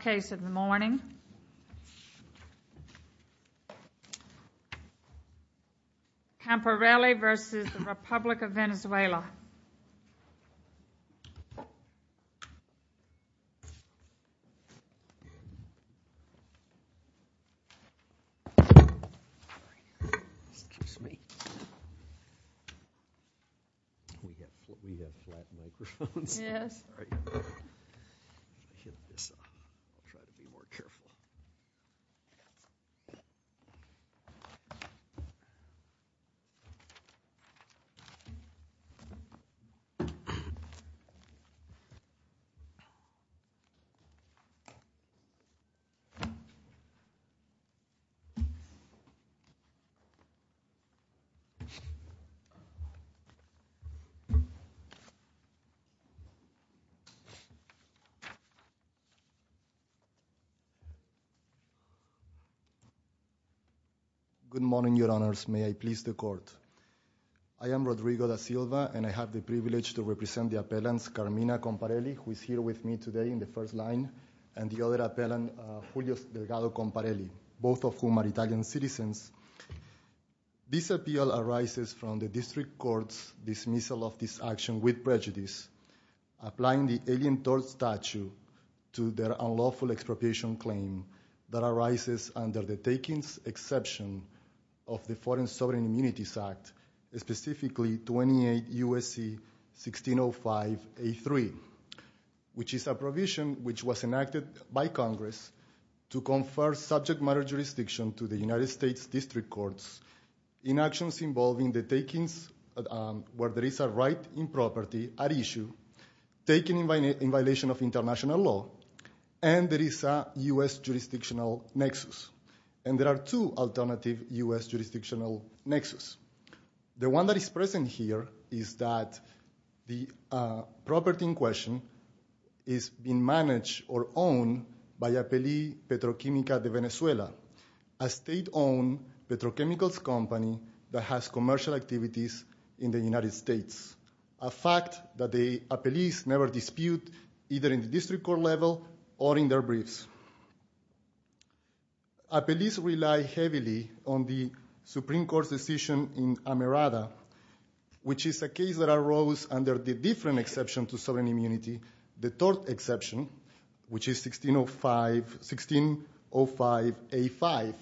Case of the morning Comparelli v. Republic of Venezuela I am Rodrigo Da Silva and I have the privilege to represent the appellants Carmina Comparelli who is here with me today in the first line and the other appellant, Julio Delgado Comparelli, both of whom are Italian citizens. This appeal arises from the district court's dismissal of this action with prejudice, applying the Alien Tort Statue to their unlawful expropriation claim that arises under the Takings Exception of the Foreign Sovereign Immunities Act, specifically 28 U.S.C. 1605A3, which is a provision which was enacted by Congress to confer subject matter jurisdiction to the United States District Courts in actions involving the takings where there is a right in property at issue, taking in violation of international law, and there is a U.S. jurisdictional nexus. And there are two alternative U.S. jurisdictional nexus. The one that is present here is that the property in question is being managed or owned by Apelli Petrochimica de Venezuela, a state-owned petrochemicals company that has commercial activities in the United States, a fact that the Apellis never dispute, either in the district court level or in their briefs. Apellis rely heavily on the Supreme Court's decision in Amerada, which is a case that arose under the different exception to sovereign immunity, the tort exception, which is 1605A5.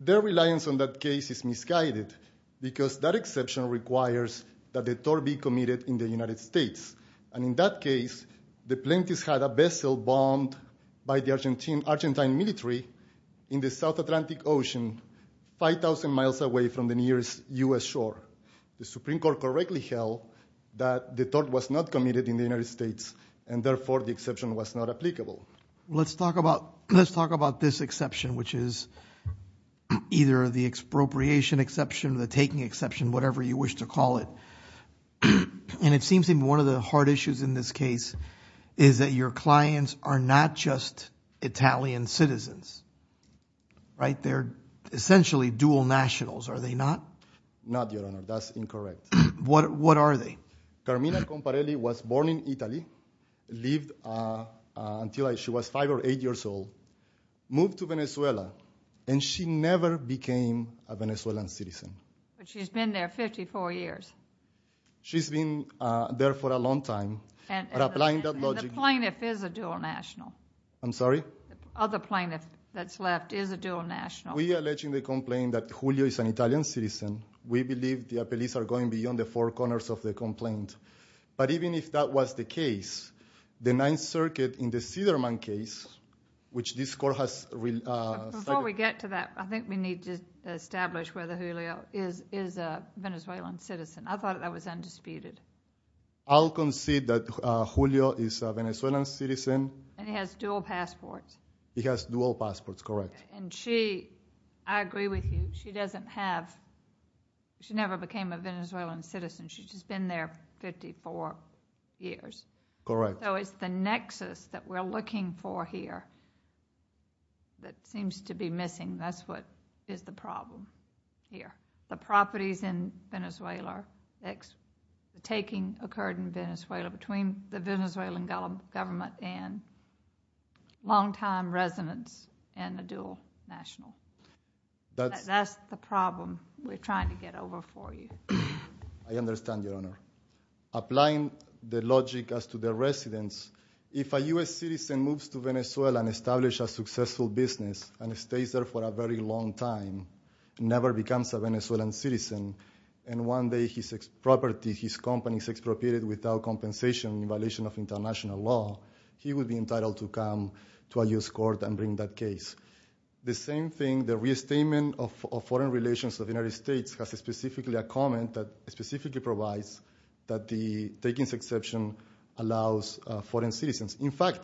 Their reliance on that case is misguided because that exception requires that the tort be committed in the United States. And in that case, the plaintiffs had a vessel bombed by the Argentine military in the South Atlantic Ocean, 5,000 miles away from the nearest U.S. shore. The Supreme Court correctly held that the tort was not committed in the United States, and therefore the exception was not applicable. Let's talk about this exception, which is either the expropriation exception or the taking exception, whatever you wish to call it. And it seems to me one of the hard issues in this case is that your clients are not just Italian citizens, right? They're essentially dual nationals. Are they not? Not, Your Honor. That's incorrect. What are they? Carmina Comparelli was born in Italy, lived until she was five or eight years old, moved to Venezuela, and she never became a Venezuelan citizen. But she's been there 54 years. She's been there for a long time. And the plaintiff is a dual national. I'm sorry? Other plaintiff that's left is a dual national. We are alleging the complaint that Julio is an Italian citizen. We believe the appellees are going beyond the four corners of the complaint. But even if that was the case, the Ninth Circuit in the Siderman case, which this court has... Before we get to that, I think we need to establish whether Julio is a Venezuelan citizen. I thought that was undisputed. I'll concede that Julio is a Venezuelan citizen. And he has dual passports. He has dual passports, correct. And she... I agree with you. She doesn't have... She never became a Venezuelan citizen. She's been there 54 years. Correct. So it's the nexus that we're looking for here that seems to be missing. That's what is the problem here. The properties in Venezuela, the taking occurred in Venezuela between the Venezuelan government and longtime residents and the dual national. That's the problem we're trying to get over for you. I understand, Your Honor. Applying the logic as to the residents, if a U.S. citizen moves to Venezuela and establishes a successful business and stays there for a very long time, never becomes a Venezuelan citizen, and one day his property, his company is expropriated without compensation in violation of international law, he would be entitled to come to a U.S. court and bring that case. The same thing, the restatement of foreign relations of the United States has specifically a comment that specifically provides that the taking exception allows foreign citizens. In fact,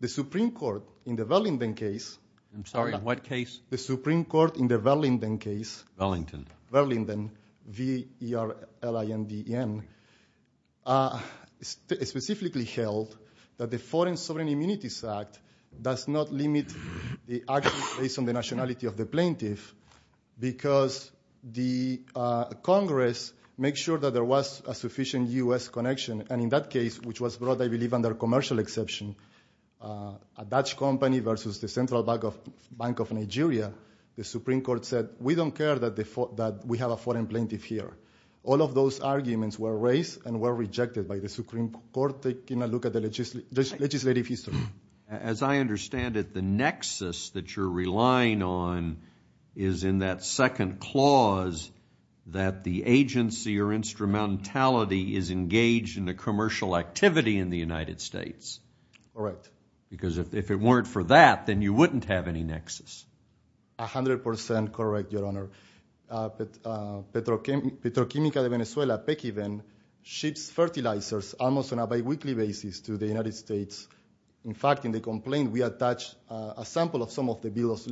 the Supreme Court in the Wellington case... I'm sorry, what case? The Supreme Court in the Wellington case... Wellington. Wellington, V-E-L-L-I-N-D-E-N, specifically held that the Foreign Sovereign Immunities Act does not limit the action based on the nationality of the plaintiff because the Congress makes sure that there was a sufficient U.S. connection, and in that case, which was brought, I believe, under commercial exception, a Dutch company versus the Central Bank of Nigeria, the Supreme Court said, we don't care that we have a foreign plaintiff here. All of those arguments were raised and were rejected by the Supreme Court taking a look at the legislative history. As I understand it, the nexus that you're relying on is in that second clause that the agency or instrumentality is engaged in a commercial activity in the United States. Correct. Because if it weren't for that, then you wouldn't have any nexus. A hundred percent correct, Your Honor. Petroquímica de Venezuela, PECIVEN, ships fertilizers almost on a biweekly basis to the United States. In fact, in the complaint, we attach a sample of some of the bills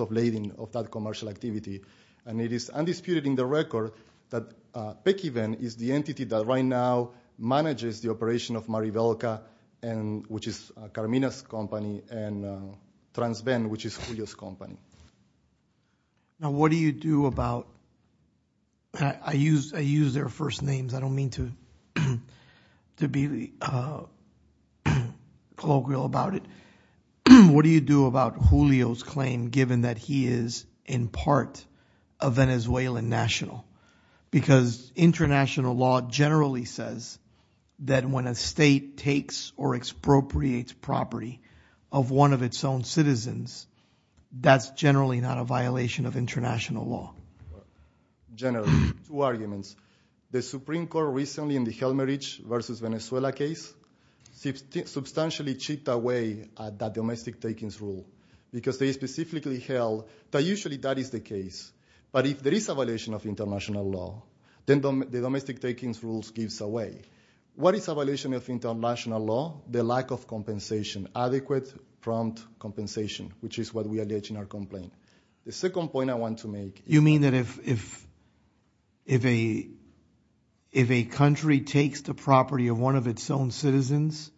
of lading of that commercial activity, and it is undisputed in the record that PECIVEN is the entity that right now manages the operation of Maribelka, which is Carmina's company, and Transven, which is Julio's company. Now, what do you do about, I use their first names, I don't mean to be colloquial about it, what do you do about Julio's claim given that he is in part a Venezuelan national? Because international law generally says that when a state takes or expropriates property of one of its own citizens, that's generally not a violation of international law. Generally. Two arguments. The Supreme Court recently in the Helmerich versus Venezuela case substantially chipped away at that domestic takings rule, because they specifically held that usually that is the case. But if there is a violation of international law, then the domestic takings rules gives away. What is a violation of international law? The lack of compensation, adequate prompt compensation, which is what we allege in our complaint. The second point I want to make. You mean that if a country takes the property of one of its own citizens,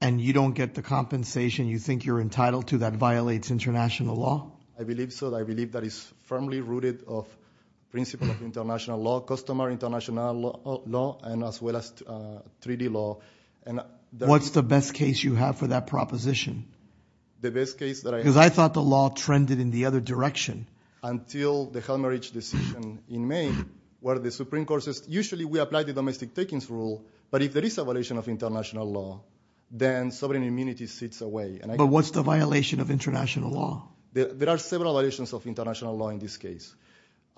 and you don't get the compensation you think you're entitled to, that violates international law? I believe so. I believe that is firmly rooted of principle of international law, customer international law, and as well as treaty law. What's the best case you have for that proposition? The best case that I have. Because I thought the law trended in the other direction. Until the Helmerich decision in May, where the Supreme Court says, usually we apply the domestic takings rule, but if there is a violation of international law, then sovereign immunity sits away. But what's the violation of international law? There are several violations of international law in this case.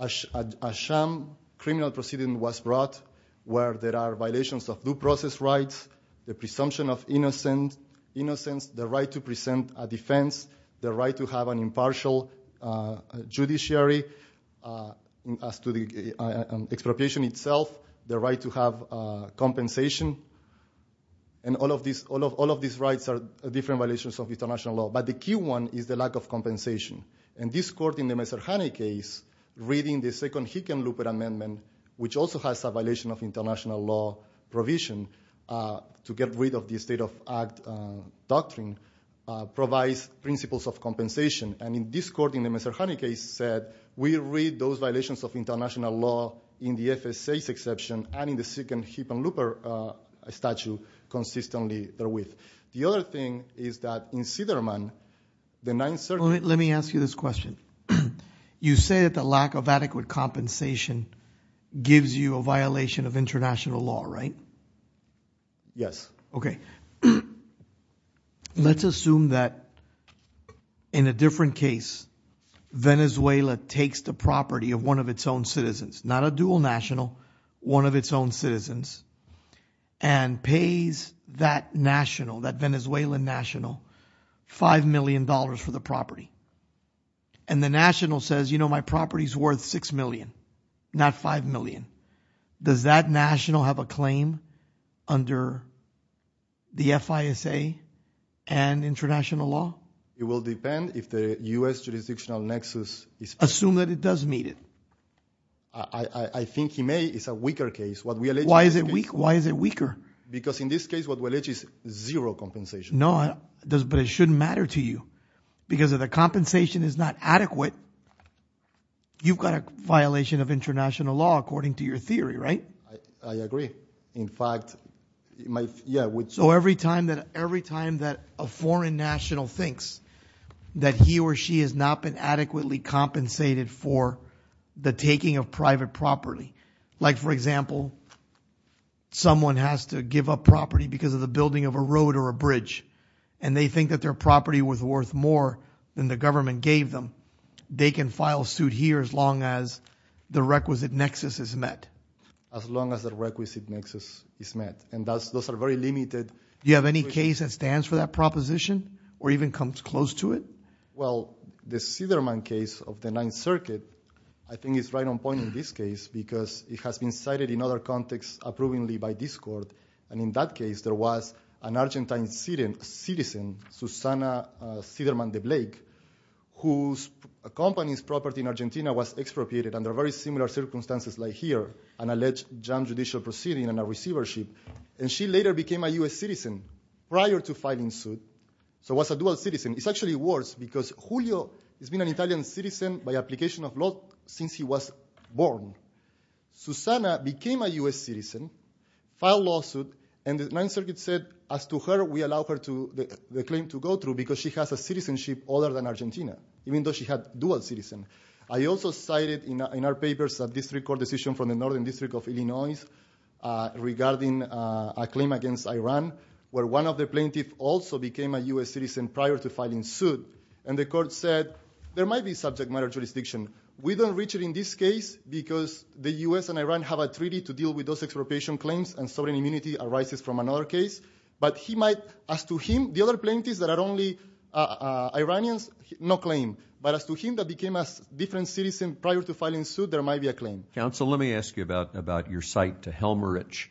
A sham criminal proceeding was brought, where there are violations of due process rights, the presumption of innocence, the right to present a defense, the right to have an impartial judiciary, as to the expropriation itself, the right to have compensation. And all of these rights are different violations of international law. In this court, in the Messerhani case, reading the second Hickenlooper amendment, which also has a violation of international law provision to get rid of the state of act doctrine, provides principles of compensation. And in this court, in the Messerhani case, said, we read those violations of international law in the FSA's exception, and in the second Hickenlooper statute, consistently therewith. The other thing is that in Siderman, the 9th Circuit... Let me ask you this question. You say that the lack of adequate compensation gives you a violation of international law, right? Yes. Okay. Let's assume that in a different case, Venezuela takes the property of one of its own citizens, not a dual national, one of its own citizens, and pays that national, that Venezuelan national, $5 million for the property. And the national says, you know, my property's worth $6 million, not $5 million. Does that national have a claim under the FISA and international law? It will depend if the US jurisdictional nexus is... Assume that it does meet it. I think he may. It's a weaker case. Why is it weak? Why is it weaker? Because in this case, what we'll itch is zero compensation. No, but it shouldn't matter to you. Because if the compensation is not adequate, you've got a violation of international law according to your theory, right? I agree. In fact, yeah. So every time that a foreign national thinks that he or she has not been adequately compensated for the taking of private property, like for example, someone has to give up property because of the building of a road or a bridge, and they think that their property was worth more than the government gave them, they can file suit here as long as the requisite nexus is met. As long as the requisite nexus is met. And those are very limited. Do you have any case that stands for that proposition or even comes close to it? Well, the Siderman case of the Ninth Circuit, I think it's right on point in this case because it has been cited in other contexts approvingly by this court, and in that case there was an Argentine citizen, Susana Siderman de Blake, whose company's property in Argentina was expropriated under very similar circumstances like here, an alleged judicial proceeding and a receivership, and she later became a U.S. citizen prior to filing suit. So it was a dual citizen. It's actually worse because Julio has been an Italian citizen by application of law since he was born. Susana became a U.S. citizen, filed lawsuit, and the Ninth Circuit said, as to her, we allow her to, the claim to go through because she has a citizenship other than Argentina, even though she had dual citizen. I also cited in our papers a district court decision from the Northern District of Illinois regarding a claim against Iran, where one of the plaintiffs also became a U.S. citizen prior to filing suit, and the court said there might be subject matter jurisdiction. We don't reach it in this case because the U.S. and Iran have a treaty to deal with those expropriation claims and sovereign immunity arises from another case, but he might, as to him, the other plaintiffs that are only Iranians, no claim, but as to him that became a different citizen prior to filing suit, there might be a claim. Counsel, let me ask you about your cite to Helmrich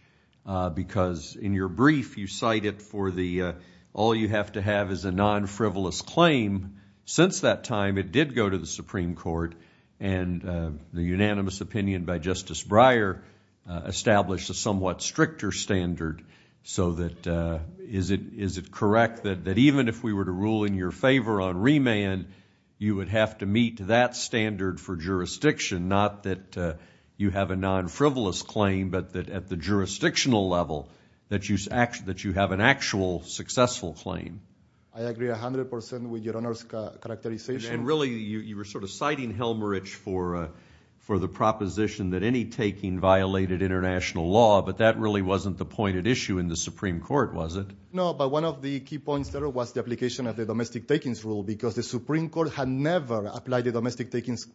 because in your brief you cite it for the, all you have to have is a non-frivolous claim. Since that time, it did go to the Supreme Court and the unanimous opinion by Justice Breyer established a somewhat stricter standard so that, is it correct that even if we were to rule in your favor on remand, you would have to meet that standard for jurisdiction, not that you have a non-frivolous claim, but that at the jurisdictional level, that you have an actual successful claim. I agree 100% with your Honor's characterization. And really, you were sort of citing Helmrich for the proposition that any taking violated international law, but that really wasn't the pointed issue in the Supreme Court, was it? No, but one of the key points there was the application of the domestic takings rule because the Supreme Court had never applied the domestic takings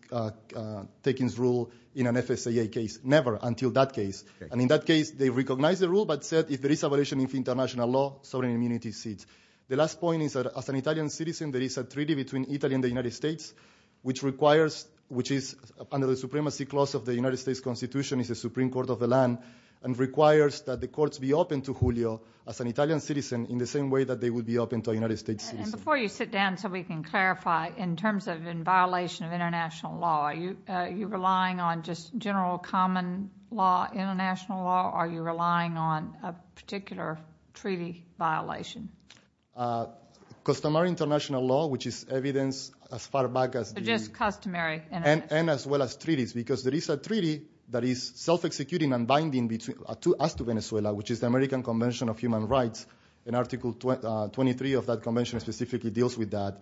rule in an FSAA case, never until that case. And in that case, they recognized the rule, but said if there is a violation of international law, sovereign immunity cedes. The last point is that as an Italian citizen, there is a treaty between Italy and the United States, which requires, which is under the supremacy clause of the United States Constitution is the Supreme Court of the land, and requires that the courts be open to Julio as an Italian citizen in the same way that they would be open to a United States citizen. And before you sit down so we can clarify, in terms of in violation of international law, are you relying on just general common law, international law, or are you relying on a particular treaty violation? Customary international law, which is evidence as far back as the... Just customary... And as well as treaties, because there is a treaty that is self-executing and binding between us to Venezuela, which is the American Convention of Human Rights, and Article 23 of that convention specifically deals with that.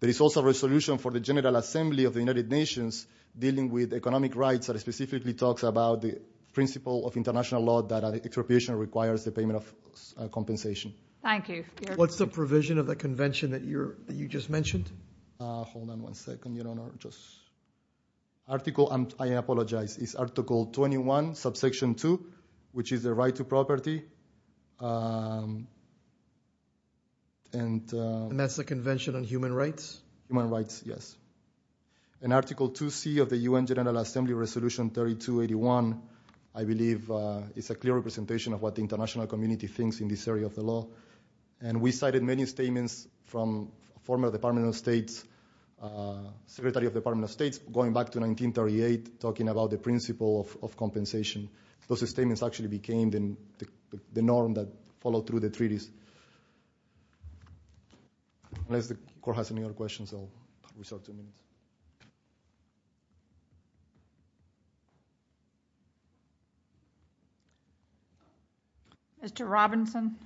There is also a resolution for the General Assembly of the United Nations dealing with economic rights that specifically talks about the principle of international law that an interpretation requires the payment of compensation. Thank you. What's the provision of the convention that you just mentioned? Hold on one second, you don't know just... Article... I apologize. It's Article 21, subsection 2, which is the right to property, and... And that's the convention on human rights? Human rights, yes. And Article 2C of the UN General Assembly Resolution 3281, I believe, is a clear representation of what the international community thinks in this area of the law. And we cited many statements from former Department of State's, Secretary of Department of State's going back to 1938, talking about the principle of compensation. Those statements actually became the norm that followed through the treaties. Unless the court has any other questions, I'll restart the meeting. Mr. Robinson?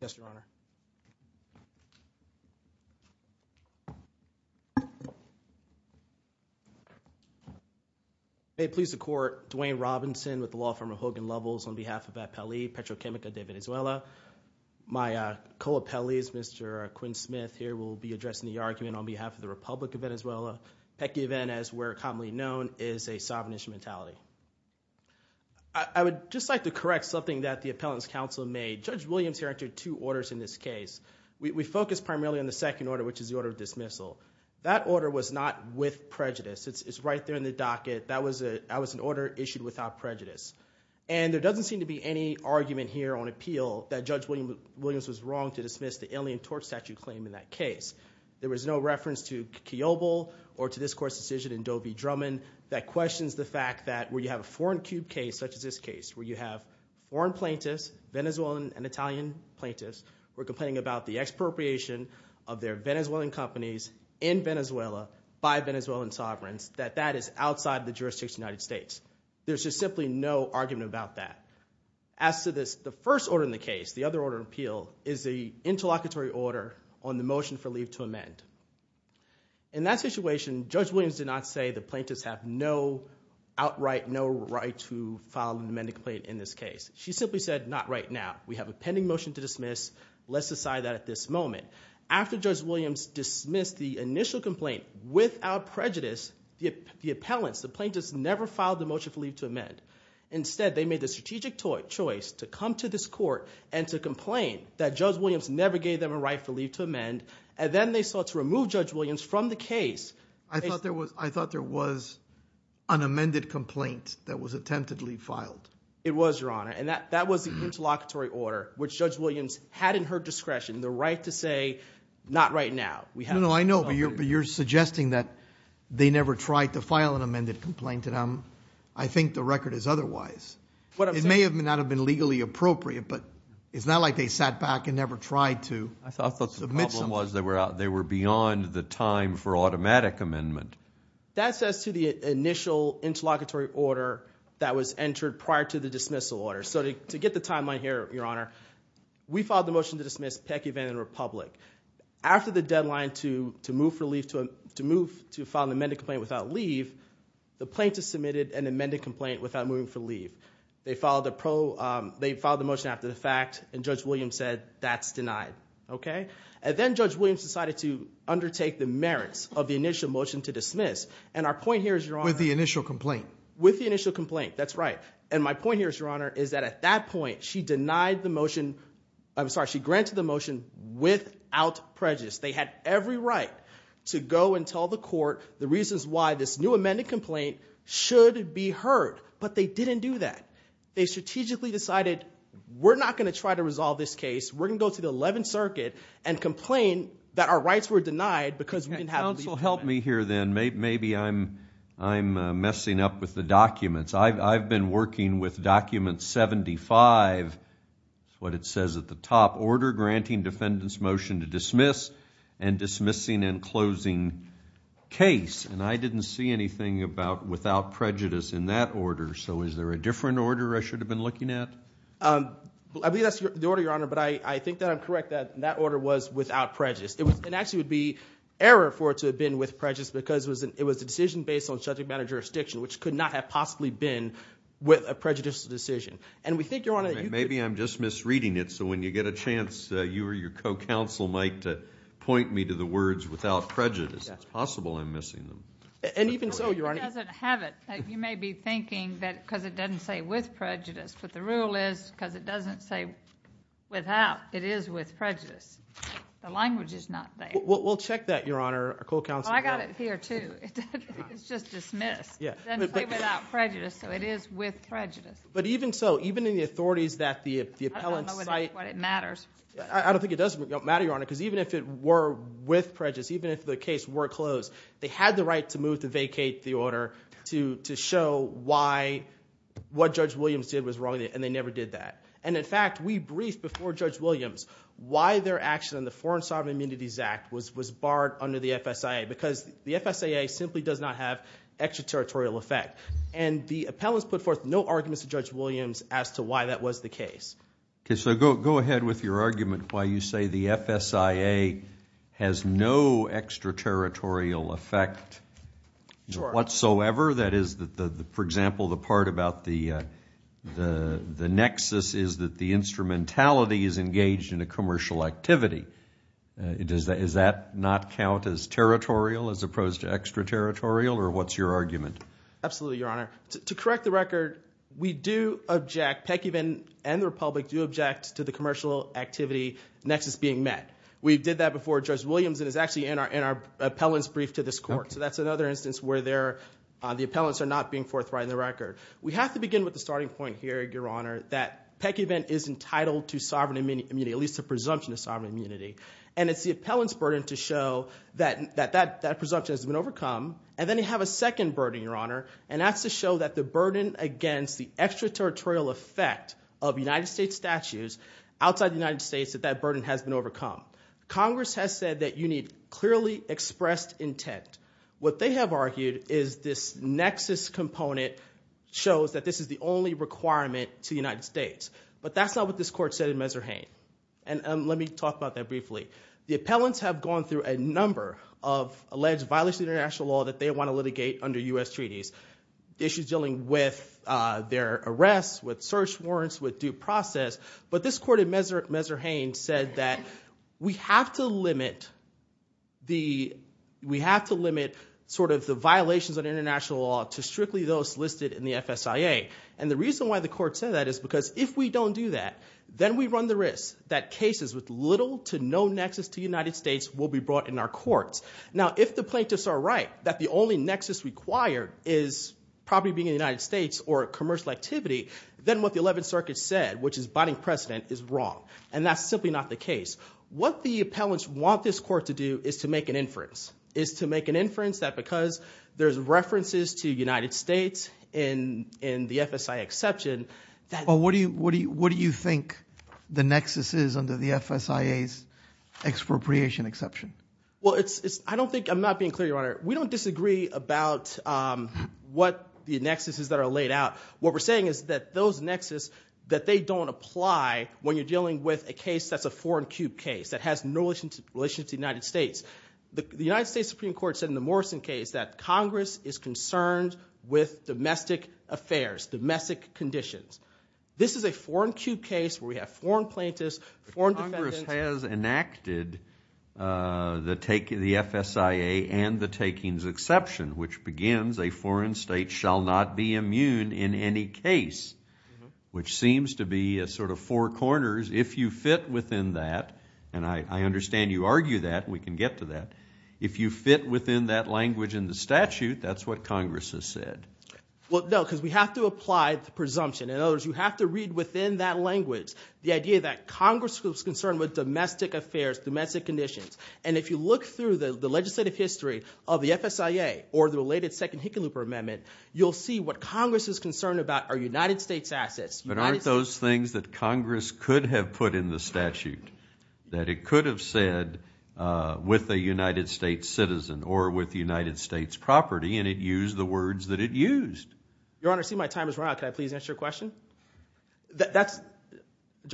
Yes, Your Honor. May it please the court, Dwayne Robinson with the law firm of Hogan Lovels on behalf of Apelli Petrochemical de Venezuela. My co-appellees, Mr. Quinn Smith here, will be addressing the argument on behalf of the Republic of Venezuela, PECI event, as we're commonly known, is a sovereign instrumentality. I would just like to correct something that the Appellant's Counsel made. Judge Williams here entered two orders in this case. We focused primarily on the second order, which is the order of dismissal. That order was not with prejudice. It's right there in the docket. That was an order issued without prejudice. And there doesn't seem to be any argument here on appeal that Judge Williams was wrong to dismiss the Alien Torch Statute claim in that case. There was no reference to Kiobel or to this court's decision in Doe v. Drummond that questions the fact that where you have a foreign cube case, such as this case, where you have foreign plaintiffs, Venezuelan and Italian plaintiffs, who are complaining about the expropriation of their Venezuelan companies in Venezuela by Venezuelan sovereigns, that that is outside the jurisdiction of the United States. There's just simply no argument about that. As to the first order in the case, the other order of appeal, is the interlocutory order on the motion for leave to amend. In that situation, Judge Williams did not say the plaintiffs have no outright, no right to file an amendment complaint in this case. She simply said, not right now. We have a pending motion to dismiss. Let's decide that at this moment. After Judge Williams dismissed the initial complaint without prejudice, the appellants, the plaintiffs, never filed the motion for leave to amend. Instead, they made the strategic choice to come to this court and to complain that Judge Williams never gave them a right for leave to amend. And then they sought to remove Judge Williams from the case. I thought there was an amended complaint that was attemptedly filed. It was, Your Honor. And that was the interlocutory order, which Judge Williams had in her discretion the right to say, not right now. No, I know. But you're suggesting that they never tried to file an amended complaint, and I think the record is otherwise. It may not have been legally appropriate, but it's not like they sat back and never tried to submit something. I thought the problem was they were beyond the time for automatic amendment. That says to the initial interlocutory order that was entered prior to the dismissal order. So to get the timeline here, Your Honor, we filed the motion to dismiss Peck, Evand, and Republic. After the deadline to move to file an amended complaint without leave, the plaintiffs submitted an amended complaint without moving for leave. They filed the motion after the fact, and Judge Williams said, that's denied. Okay? And then Judge Williams decided to undertake the merits of the initial motion to dismiss. And our point here is, Your Honor. With the initial complaint. With the initial complaint, that's right. And my point here is, Your Honor, is that at that point, she denied the motion, I'm sorry, she granted the motion without prejudice. They had every right to go and tell the court the reasons why this new amended complaint should be heard. But they didn't do that. They strategically decided, we're not going to try to resolve this case. We're going to go to the 11th Circuit and complain that our rights were denied because we didn't have leave. Counsel, help me here then. Maybe I'm messing up with the documents. I've been working with document 75, what it says at the top. Order granting defendant's motion to dismiss, and dismissing and closing case. And I didn't see anything about without prejudice in that order. So is there a different order I should have been looking at? I believe that's the order, Your Honor, but I think that I'm correct that that order was without prejudice. It actually would be error for it to have been with prejudice because it was a decision based on subject matter jurisdiction, which could not have possibly been with a prejudiced decision. And we think, Your Honor, that you... Maybe I'm just misreading it, so when you get a chance, you or your co-counsel might point me to the words without prejudice. It's possible I'm missing them. And even so, Your Honor... It doesn't have it. You may be thinking that because it doesn't say with prejudice, but the rule is because it doesn't say without, it is with prejudice. The language is not there. We'll check that, Your Honor. Our co-counsel... I got it here, too. It's just dismissed. It doesn't say without prejudice, so it is with prejudice. But even so, even in the authorities that the appellant cite... I don't know what it matters. I don't think it does matter, Your Honor, because even if it were with prejudice, even if the case were closed, they had the right to move to vacate the order to show why what Judge Williams did was wrong, and they never did that. And in fact, we briefed before Judge Williams why their action on the Foreign Sovereign Immunities Act was barred under the FSIA, because the FSIA simply does not have extraterritorial effect. And the appellants put forth no arguments to Judge Williams as to why that was the case. Okay, so go ahead with your argument why you say the FSIA has no extraterritorial effect whatsoever. That is, for example, the part about the nexus is that the instrumentality is engaged in a commercial activity. Does that not count as territorial as opposed to extraterritorial, or what's your argument? Absolutely, Your Honor. To correct the record, we do object, Pekivan and the Republic do object to the commercial activity nexus being met. We did that before Judge Williams, and it's actually in our appellant's brief to this court. So that's another instance where the appellants are not being forthright in the record. We have to begin with the starting point here, Your Honor, that Pekivan is entitled to sovereign immunity, at least a presumption of sovereign immunity. And it's the appellant's burden to show that that presumption has been overcome, and then they have a second burden, Your Honor, and that's to show that the burden against the extraterritorial effect of United States statutes outside the United States, that that burden has been overcome. Congress has said that you need clearly expressed intent. What they have argued is this nexus component shows that this is the only requirement to the United States. But that's not what this court said in Messerhain, and let me talk about that briefly. The appellants have gone through a number of alleged violations of international law that they want to litigate under U.S. treaties, issues dealing with their arrests, with search warrants, with due process. But this court in Messerhain said that we have to limit sort of the violations of international law to strictly those listed in the FSIA. And the reason why the court said that is because if we don't do that, then we run the risk that cases with little to no nexus to United States will be brought in our courts. Now, if the plaintiffs are right that the only nexus required is probably being in the United States or a commercial activity, then what the 11th Circuit said, which is biding precedent, is wrong. And that's simply not the case. What the appellants want this court to do is to make an inference, is to make an inference that because there's references to United States in the FSIA exception, that... But what do you think the nexus is under the FSIA's expropriation exception? Well, it's, I don't think, I'm not being clear, Your Honor. We don't disagree about what the nexus is that are laid out. What we're saying is that those nexus, that they don't apply when you're dealing with a case that's a foreign cube case, that has no relation to United States. The United States Supreme Court said in the Morrison case that Congress is concerned with domestic affairs, domestic conditions. This is a foreign cube case where we have foreign plaintiffs, foreign defendants... The FSIA and the takings exception, which begins, a foreign state shall not be immune in any case, which seems to be a sort of four corners. If you fit within that, and I understand you argue that, we can get to that. If you fit within that language in the statute, that's what Congress has said. Well, no, because we have to apply the presumption. In other words, you have to read within that language the idea that Congress was concerned with domestic affairs, domestic conditions. If you look through the legislative history of the FSIA, or the related second Hickenlooper amendment, you'll see what Congress is concerned about are United States assets. But aren't those things that Congress could have put in the statute, that it could have said with a United States citizen, or with United States property, and it used the words that it used? Your Honor, I see my time has run out. Can I please answer your question? That's...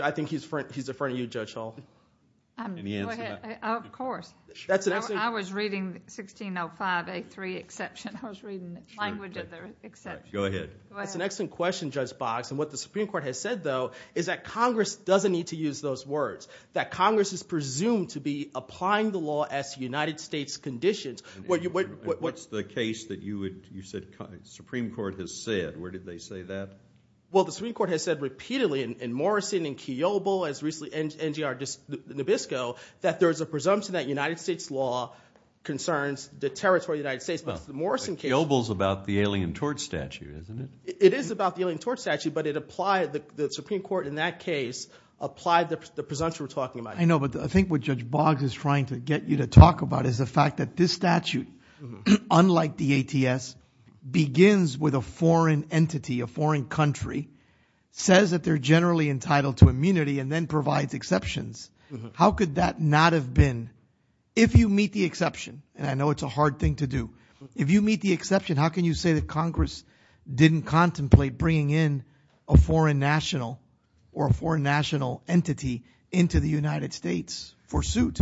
I think he's a friend of you, Judge Hall. Go ahead. Of course. That's an excellent... I was reading 1605A3 exception. I was reading the language of the exception. Go ahead. Go ahead. That's an excellent question, Judge Boggs, and what the Supreme Court has said, though, is that Congress doesn't need to use those words, that Congress is presumed to be applying the law as United States conditions. What's the case that you said the Supreme Court has said? Where did they say that? Well, the Supreme Court has said repeatedly, in Morrison, in Kiobel, as recently NGR Nabisco, that there's a presumption that United States law concerns the territory of the United States, but the Morrison case... Well, Kiobel's about the Alien Tort Statute, isn't it? It is about the Alien Tort Statute, but it applied... the Supreme Court in that case applied the presumption we're talking about. I know, but I think what Judge Boggs is trying to get you to talk about is the fact that this statute, unlike the ATS, begins with a foreign entity, a foreign country, says that they're generally entitled to immunity, and then provides exceptions. How could that not have been, if you meet the exception, and I know it's a hard thing to do, if you meet the exception, how can you say that Congress didn't contemplate bringing in a foreign national or a foreign national entity into the United States for suit?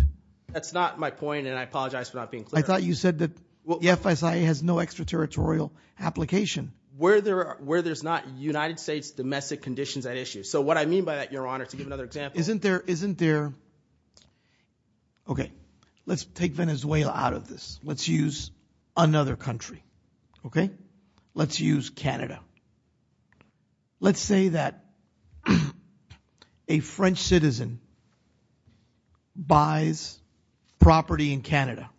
That's not my point, and I apologize for not being clear. I thought you said that the FSIA has no extraterritorial application. Where there's not United States domestic conditions at issue. So what I mean by that, Your Honor, to give another example... Isn't there... Okay, let's take Venezuela out of this. Let's use another country, okay? Let's use Canada. Let's say that a French citizen buys property in Canada,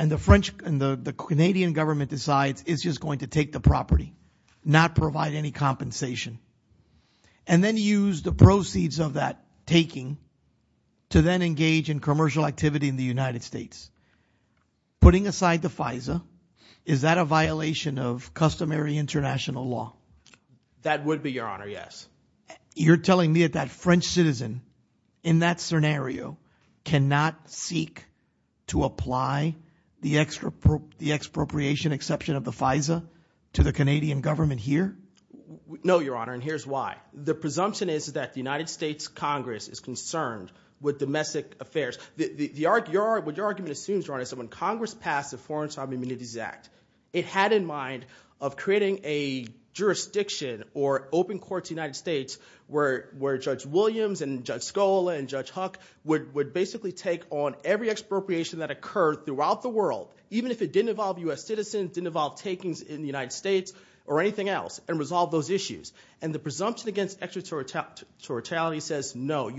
and the Canadian government decides it's just going to take the property, not provide any compensation, and then use the proceeds of that taking to then engage in commercial activity in the United States. Putting aside the FISA, is that a violation of customary international law? That would be, Your Honor, yes. You're telling me that that French citizen, in that scenario, cannot seek to apply the expropriation exception of the FISA to the Canadian government here? No, Your Honor, and here's why. The presumption is that the United States Congress is concerned with domestic affairs. What your argument assumes, Your Honor, is that when Congress passed the Foreign Sovereign Immunities Act, it had in mind of creating a jurisdiction or open court to the United States where Judge Williams and Judge Scola and Judge Huck would basically take on every expropriation that occurred throughout the world, even if it didn't involve U.S. citizens, didn't involve takings in the United States, or anything else, and resolve those issues. The presumption against extraterritoriality says no.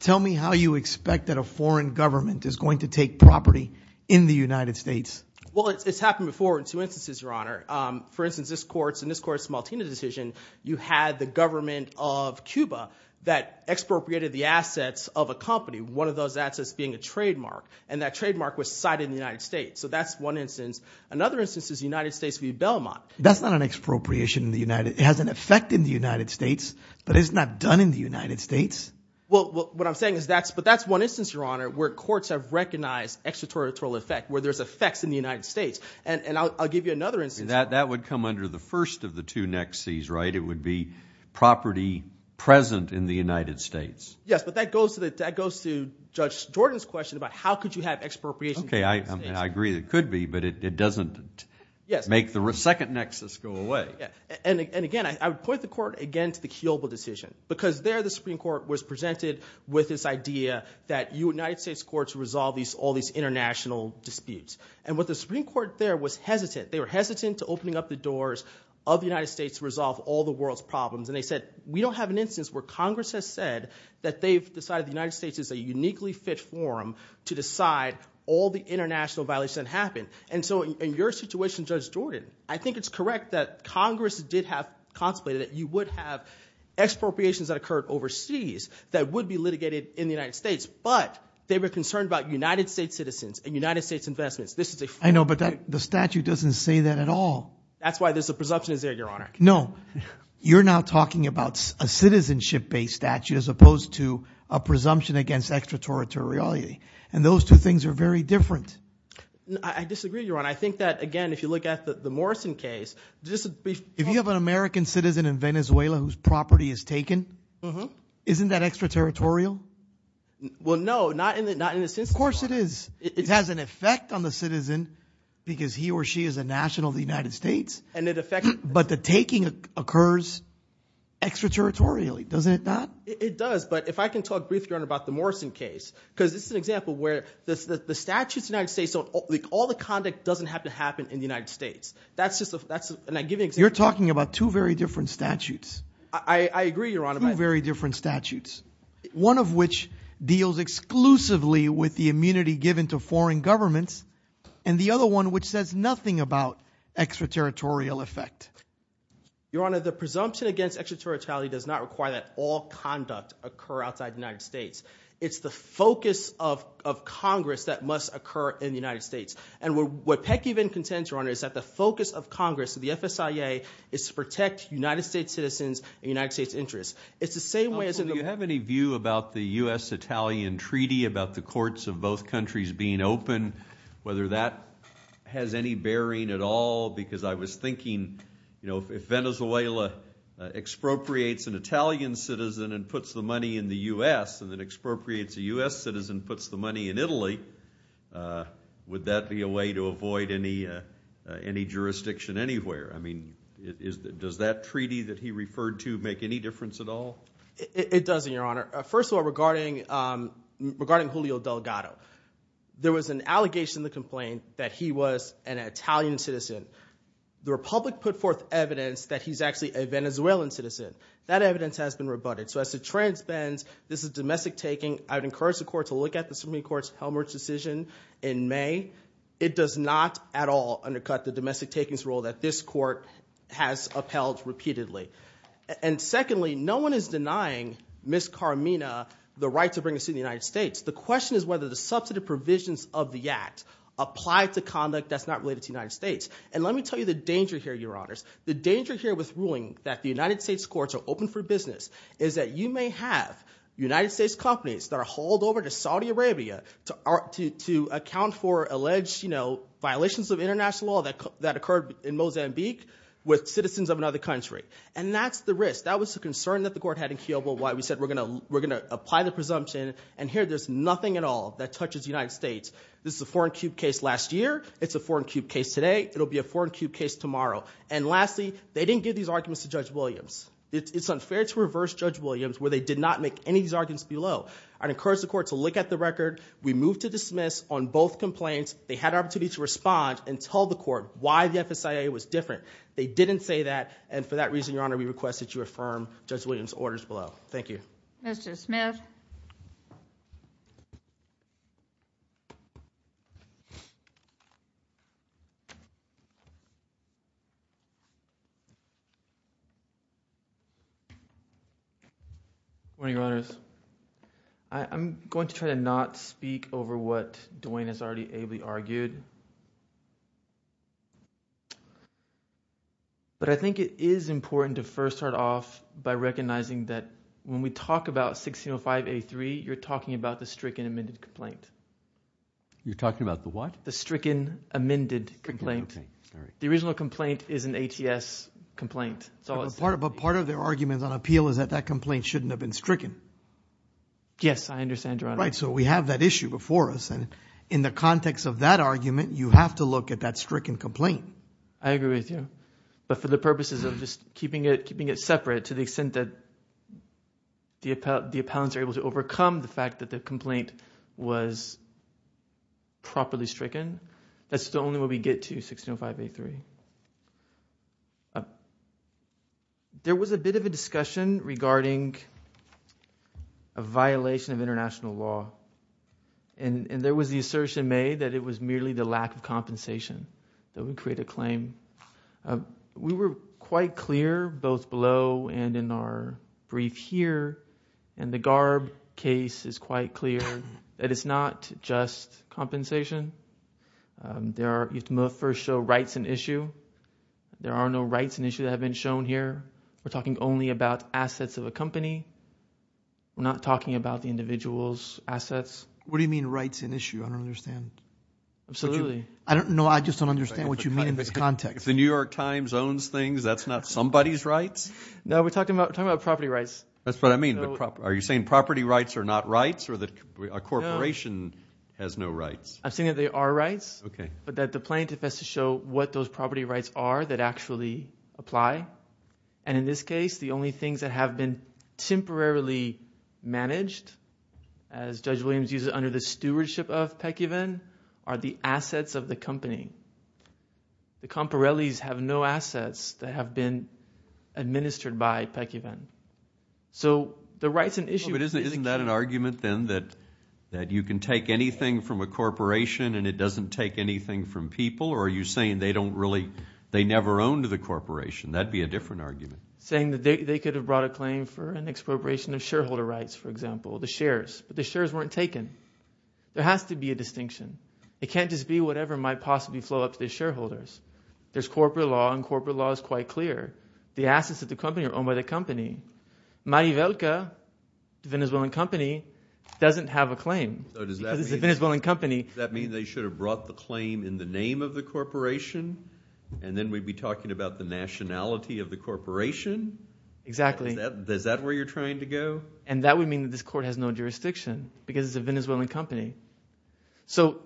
Tell me how you expect that a foreign government is going to take property in the United States. Well, it's happened before in two instances, Your Honor. For instance, in this court's Maltina decision, you had the government of Cuba that expropriated the assets of a company, one of those assets being a trademark, and that trademark was cited in the United States. So that's one instance. Another instance is the United States v. Belmont. That's not an expropriation in the United... It has an effect in the United States, but it's not done in the United States. Well, what I'm saying is that's... But that's one instance, Your Honor, where courts have recognized extraterritorial effect, where there's effects in the United States. And I'll give you another instance. That would come under the first of the two nexuses, right? It would be property present in the United States. Yes, but that goes to Judge Jordan's question about how could you have expropriation in the United States. Okay, I agree it could be, but it doesn't make the second nexus go away. And again, I would point the court, again, to the Kiobel decision, because there the Supreme Court was presented with this idea that United States courts resolve all these international disputes. And what the Supreme Court there was hesitant. They were hesitant to opening up the doors of the United States to resolve all the world's problems. And they said, we don't have an instance where Congress has said that they've decided the United States is a uniquely fit forum to decide all the international violations that happen. And so in your situation, Judge Jordan, I think it's correct that Congress did have contemplated that you would have expropriations that occurred overseas that would be litigated in the United States, but they were concerned about United States citizens and United States investments. This is a- I know, but the statute doesn't say that at all. That's why there's a presumption is there, Your Honor. No, you're now talking about a citizenship-based statute as opposed to a presumption against extraterritoriality. And those two things are very different. I disagree, Your Honor. I think that, again, if you look at the Morrison case, just a brief- If you have an American citizen in Venezuela whose property is taken, isn't that extraterritorial? Well, no, not in the sense that- Of course it is. It has an effect on the citizen because he or she is a national of the United States. And it affects- But the taking occurs extraterritorially, doesn't it not? It does. But if I can talk briefly, Your Honor, about the Morrison case, because this is an example where the statutes of the United States don't- All the conduct doesn't have to happen in the United States. That's just a- And I give an example- You're talking about two very different statutes. I agree, Your Honor. Two very different statutes, one of which deals exclusively with the immunity given to foreign governments, and the other one which says nothing about extraterritorial effect. Your Honor, the presumption against extraterritoriality does not require that all conduct occur outside the United States. It's the focus of Congress that must occur in the United States. And what Peck even contends, Your Honor, is that the focus of Congress, of the FSIA, is to protect United States citizens and United States interests. It's the same way as- Counsel, do you have any view about the U.S.-Italian treaty, about the courts of both countries being open, whether that has any bearing at all? Because I was thinking, you know, if Venezuela expropriates an Italian citizen and puts the money in Italy, would that be a way to avoid any jurisdiction anywhere? I mean, does that treaty that he referred to make any difference at all? It doesn't, Your Honor. First of all, regarding Julio Delgado. There was an allegation in the complaint that he was an Italian citizen. The Republic put forth evidence that he's actually a Venezuelan citizen. That evidence has been rebutted. So as the trend bends, this is domestic taking. I would encourage the court to look at the Supreme Court's Helmholtz decision in May. It does not at all undercut the domestic takings rule that this court has upheld repeatedly. And secondly, no one is denying Ms. Carmina the right to bring a citizen to the United States. The question is whether the substantive provisions of the act apply to conduct that's not related to the United States. And let me tell you the danger here, Your Honors. The danger here with ruling that the United States courts are open for business is that you may have United States companies that are hauled over to Saudi Arabia to account for alleged violations of international law that occurred in Mozambique with citizens of another country. And that's the risk. That was the concern that the court had in Kiobo, why we said we're going to apply the presumption. And here, there's nothing at all that touches the United States. This is a foreign cube case last year. It's a foreign cube case today. It'll be a foreign cube case tomorrow. And lastly, they didn't give these arguments to Judge Williams. It's unfair to reverse Judge Williams where they did not make any of these arguments below. I'd encourage the court to look at the record. We move to dismiss on both complaints. They had an opportunity to respond and tell the court why the FSIA was different. They didn't say that. And for that reason, Your Honor, we request that you affirm Judge Williams' orders below. Thank you. Mr. Smith. Good morning, Your Honors. I'm going to try to not speak over what Duane has already ably argued. But I think it is important to first start off by recognizing that when we talk about 1605A3, you're talking about the stricken amended complaint. You're talking about the what? The stricken amended complaint. The original complaint is an ATS complaint. But part of their argument on appeal is that that complaint shouldn't have been stricken. Yes, I understand, Your Honor. Right. So we have that issue before us. In the context of that argument, you have to look at that stricken complaint. I agree with you. But for the purposes of just keeping it separate to the extent that the appellants are able to overcome the fact that the complaint was properly stricken, that's the only way we get to 1605A3. There was a bit of a discussion regarding a violation of international law. And there was the assertion made that it was merely the lack of compensation that would create a claim. We were quite clear, both below and in our brief here, and the Garb case is quite clear that it's not just compensation. There are, you have to first show rights and issue. There are no rights and issue that have been shown here. We're talking only about assets of a company. We're not talking about the individual's assets. What do you mean rights and issue? I don't understand. Absolutely. I don't know. I just don't understand what you mean in this context. If the New York Times owns things, that's not somebody's rights? No, we're talking about property rights. That's what I mean. Are you saying property rights are not rights or that a corporation has no rights? I'm saying that they are rights. Okay. But that the plaintiff has to show what those property rights are that actually apply. In this case, the only things that have been temporarily managed, as Judge Williams used it, under the stewardship of Pekivan, are the assets of the company. The Comparellis have no assets that have been administered by Pekivan. The rights and issue... Isn't that an argument then that you can take anything from a corporation and it doesn't take anything from people? Or are you saying they don't really... they never owned the corporation? That would be a different argument. Saying that they could have brought a claim for an expropriation of shareholder rights, for example, the shares, but the shares weren't taken. There has to be a distinction. It can't just be whatever might possibly flow up to the shareholders. There's corporate law, and corporate law is quite clear. The assets of the company are owned by the company. Marivelka, the Venezuelan company, doesn't have a claim because it's a Venezuelan company. Does that mean they should have brought the claim in the name of the corporation? And then we'd be talking about the nationality of the corporation? Exactly. Is that where you're trying to go? And that would mean that this court has no jurisdiction because it's a Venezuelan company. So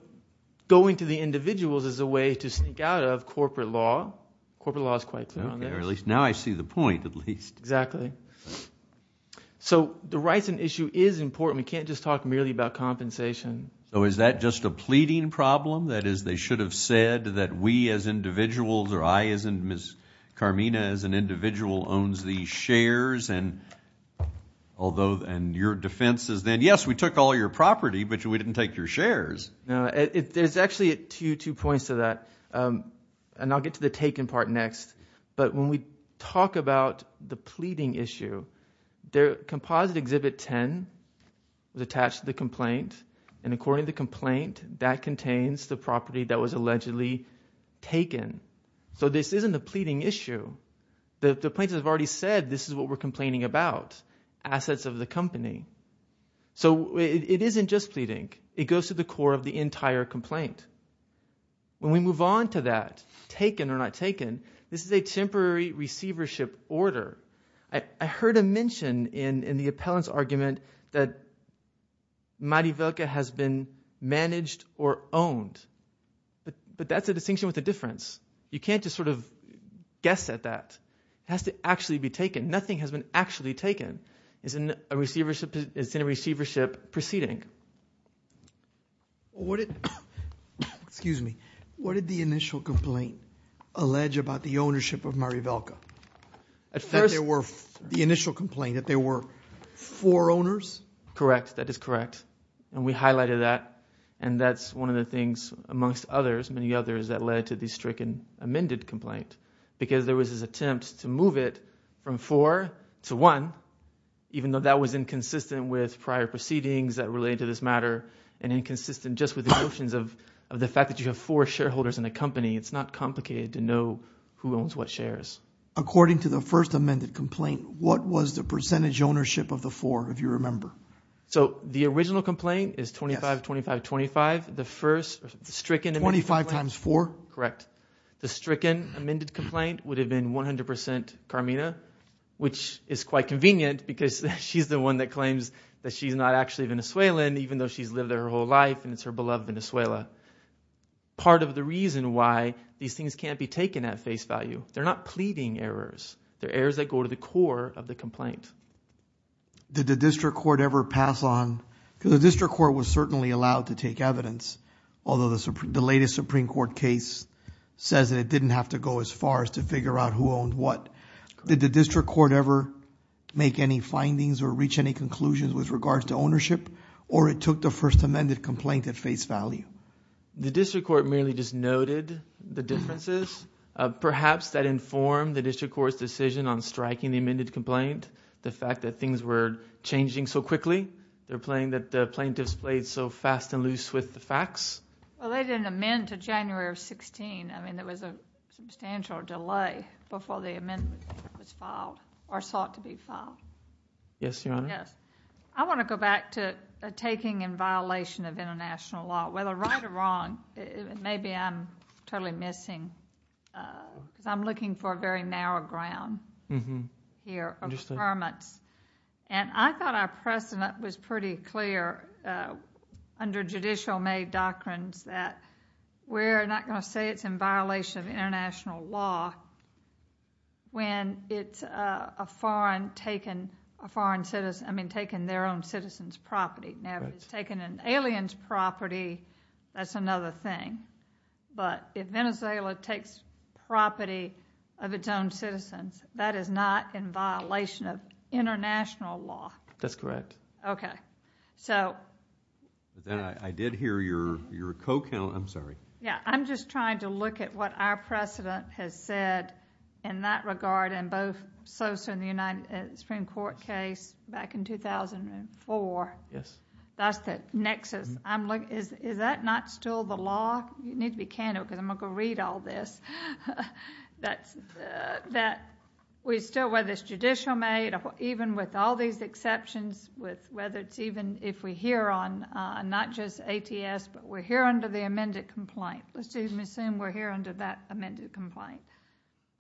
going to the individuals is a way to sneak out of corporate law. Corporate law is quite clear on theirs. Now I see the point, at least. Exactly. So the rights and issue is important. We can't just talk merely about compensation. So is that just a pleading problem? That is, they should have said that we as individuals, or I as in Ms. Carmina as an individual, owns these shares. And your defense is then, yes, we took all your property, but we didn't take your shares. There's actually two points to that. And I'll get to the taken part next. But when we talk about the pleading issue, Composite Exhibit 10 is attached to the complaint. And according to the complaint, that contains the property that was allegedly taken. So this isn't a pleading issue. The plaintiffs have already said this is what we're complaining about, assets of the company. So it isn't just pleading. It goes to the core of the entire complaint. When we move on to that, taken or not taken, this is a temporary receivership order. I heard a mention in the appellant's argument that Marivelka has been managed or owned. But that's a distinction with a difference. You can't just sort of guess at that. It has to actually be taken. Nothing has been actually taken. It's in a receivership proceeding. Excuse me. What did the initial complaint allege about the ownership of Marivelka? The initial complaint that there were four owners? Correct. That is correct. And we highlighted that. And that's one of the things, amongst many others, that led to the stricken amended complaint. Because there was this attempt to move it from four to one, even though that was inconsistent with prior proceedings that related to this matter, and inconsistent just with notions of the fact that you have four shareholders in a company. It's not complicated to know who owns what shares. According to the first amended complaint, what was the percentage ownership of the four, if you remember? The original complaint is 25-25-25. The first stricken amended complaint... 25 times four? Correct. The stricken amended complaint would have been 100% Carmina, which is quite convenient because she's the one that claims that she's not actually Venezuelan, even though she's lived there her whole life and it's her beloved Venezuela. Part of the reason why these things can't be taken at face value, they're not pleading errors. They're errors that go to the core of the complaint. Did the district court ever pass on... Because the district court was certainly allowed to take evidence, although the latest Supreme Court case says that it didn't have to go as far as to figure out who owned what. Did the district court ever make any findings or reach any conclusions with regards to ownership, or it took the first amended complaint at face value? The district court merely just noted the differences. Perhaps that informed the district court's decision on striking the amended complaint, the fact that things were changing so quickly, the plaintiffs played so fast and loose with the facts. Well, they didn't amend to January of 16. I mean, there was a substantial delay before the amendment was filed or sought to be filed. Yes, Your Honor. I want to go back to taking in violation of international law. Whether right or wrong, maybe I'm totally missing, because I'm looking for a very narrow ground here of affirmance. And I thought our precedent was pretty clear under judicial-made doctrines that we're not going to say it's in violation of international law when it's a foreign taking their own citizens' property. Now, if it's taking an alien's property, that's another thing. But if Venezuela takes property of its own citizens, that is not in violation of international law. That's correct. Okay, so... I did hear your co-counsel. I'm sorry. Yeah, I'm just trying to look at what our precedent has said in that regard in both Sosa and the United States Supreme Court case back in 2004. Yes. That's the nexus. Is that not still the law? You need to be candid, because I'm going to go read all this. That we still, whether it's judicial-made, even with all these exceptions, whether it's even if we hear on not just ATS, but we're here under the amended complaint. Let's assume we're here under that amended complaint,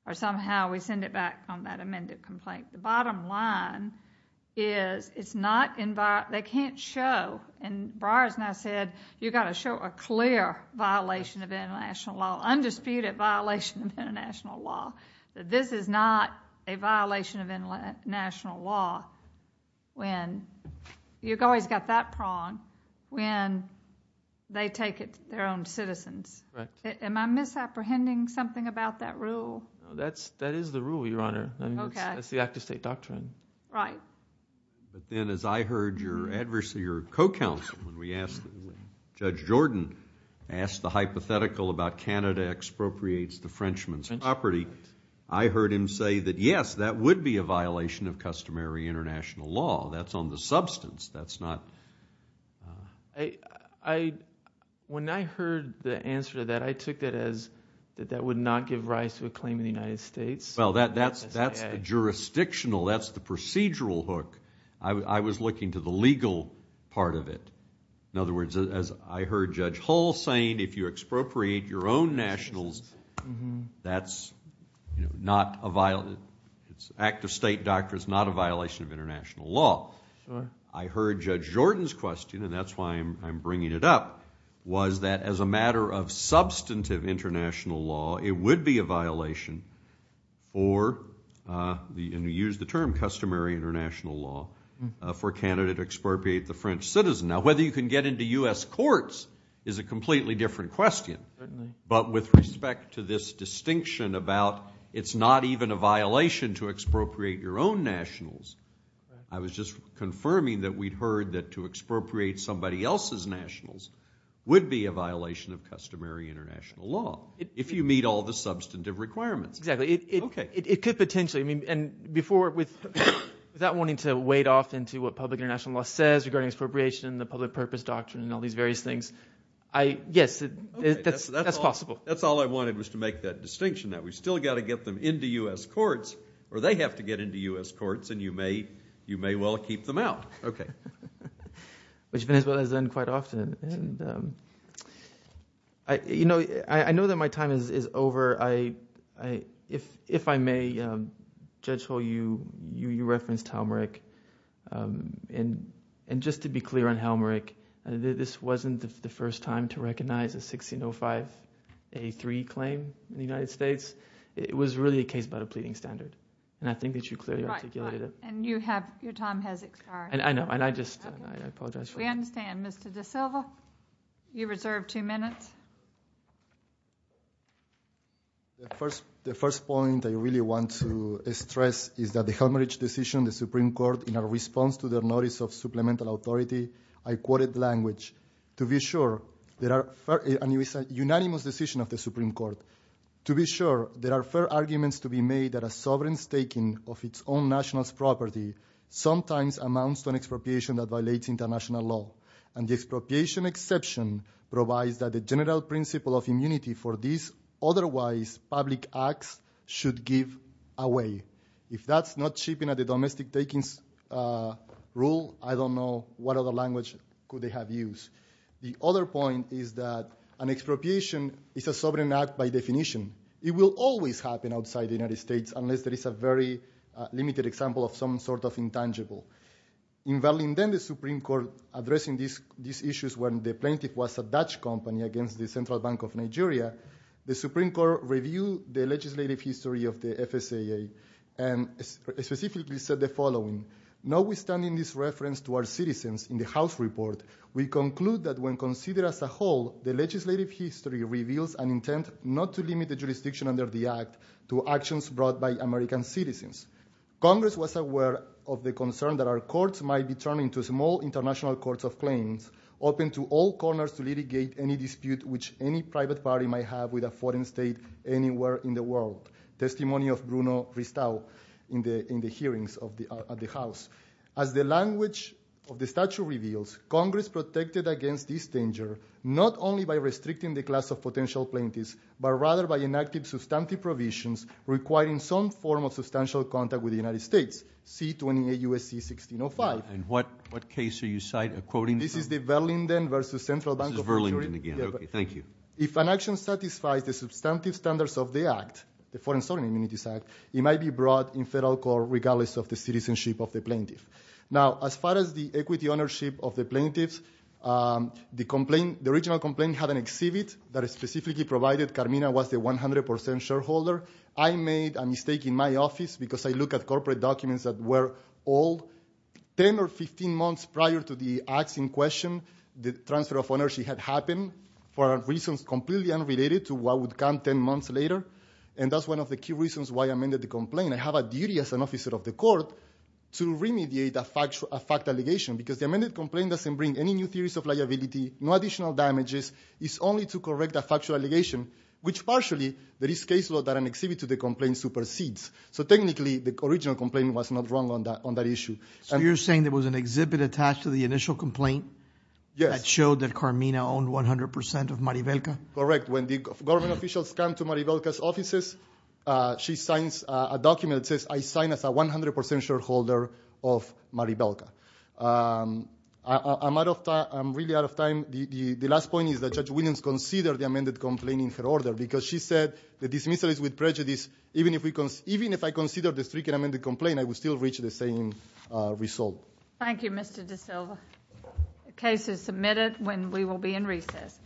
or somehow we send it back on that amended complaint. The bottom line is it's not in violation... They can't show, and Breyer's now said, you've got to show a clear violation of international law, undisputed violation of international law, that this is not a violation of international law when you've always got that prong, when they take it, their own citizens. Right. Am I misapprehending something about that rule? That is the rule, Your Honor. Okay. That's the act-of-state doctrine. But then as I heard your co-counsel, when we asked Judge Jordan, asked the hypothetical about Canada expropriates the Frenchman's property, I heard him say that, yes, that would be a violation of customary international law. That's on the substance. That's not... When I heard the answer to that, I took that as that that would not give rise to a claim in the United States. Well, that's jurisdictional. That's the procedural hook. I was looking to the legal part of it. In other words, as I heard Judge Hall saying, if you expropriate your own nationals, that's not a violation... It's an act-of-state doctrine. It's not a violation of international law. I heard Judge Jordan's question, and that's why I'm bringing it up, was that as a matter of substantive international law, it would be a violation or... And he used the term customary international law for Canada to expropriate the French citizen. Now, whether you can get into U.S. courts is a completely different question. But with respect to this distinction about it's not even a violation to expropriate your own nationals, I was just confirming that we'd heard that to expropriate somebody else's nationals would be a violation of customary international law, if you meet all the substantive requirements. Exactly. It could potentially. And before, without wanting to wade off into what public international law says regarding expropriation and the public purpose doctrine and all these various things, yes, that's possible. That's all I wanted, was to make that distinction, that we've still got to get them into U.S. courts, or they have to get into U.S. courts, and you may well keep them out. Okay. Which Venezuela has done quite often. I know that my time is over. If I may, Judge Hull, you referenced Helmerich. And just to be clear on Helmerich, this wasn't the first time to recognize a 1605A3 claim in the United States. It was really a case about a pleading standard, and I think that you clearly articulated it. And your time has expired. I know, and I just apologize for that. We understand. Mr. DaSilva, you reserve two minutes. The first point I really want to stress is that the Helmerich decision, the Supreme Court, in a response to their notice of supplemental authority, I quoted language, to be sure, and it was a unanimous decision of the Supreme Court, to be sure, there are fair arguments to be made that a sovereign staking of its own national property sometimes amounts to an expropriation that violates international law. And the expropriation exception provides that the general principle of immunity for these otherwise public acts should give away. If that's not chipping at the domestic takings rule, I don't know what other language could they have used. The other point is that an expropriation is a sovereign act by definition. It will always happen outside the United States unless there is a very limited example of some sort of intangible. In Verlinden, the Supreme Court, addressing these issues when the plaintiff was a Dutch company against the Central Bank of Nigeria, the Supreme Court reviewed the legislative history of the FSAA and specifically said the following. Notwithstanding this reference to our citizens in the House report, we conclude that when considered as a whole, the legislative history reveals an intent not to limit the jurisdiction under the Act to actions brought by American citizens. Congress was aware of the concern that our courts might be turned into small international courts of claims, open to all corners to litigate any dispute which any private party might have with a foreign state anywhere in the world. Testimony of Bruno Ristau in the hearings at the House. As the language of the statute reveals, Congress protected against this danger not only by restricting the class of potential plaintiffs but rather by enacting substantive provisions requiring some form of substantial contact with the United States, C-28 U.S.C. 1605. And what case are you quoting? This is the Verlinden versus Central Bank of Nigeria. This is Verlinden again. Okay, thank you. If an action satisfies the substantive standards of the Act, the Foreign Sovereign Immunities Act, it might be brought in federal court regardless of the citizenship of the plaintiff. Now, as far as the equity ownership of the plaintiffs, the original complaint had an exhibit that specifically provided Carmina was the 100% shareholder. I made a mistake in my office because I look at corporate documents that were old. Ten or 15 months prior to the acts in question, the transfer of ownership had happened for reasons completely unrelated to what would come ten months later. And that's one of the key reasons why I amended the complaint. I have a duty as an officer of the court to remediate a fact allegation because the amended complaint doesn't bring any new theories of liability, no additional damages. It's only to correct a factual allegation, which partially, there is case law that an exhibit to the complaint supersedes. So technically, the original complaint was not wrong on that issue. So you're saying there was an exhibit attached to the initial complaint that showed that Carmina owned 100% of Maribelka? Correct. When the government officials come to Maribelka's offices, she signs a document that says, I sign as a 100% shareholder of Maribelka. I'm out of time. I'm really out of time. The last point is that Judge Williams considered the amended complaint in her order because she said the dismissal is with prejudice. Even if I considered the stricken amended complaint, I would still reach the same result. Thank you, Mr. DaSilva. The case is submitted. We will be in recess.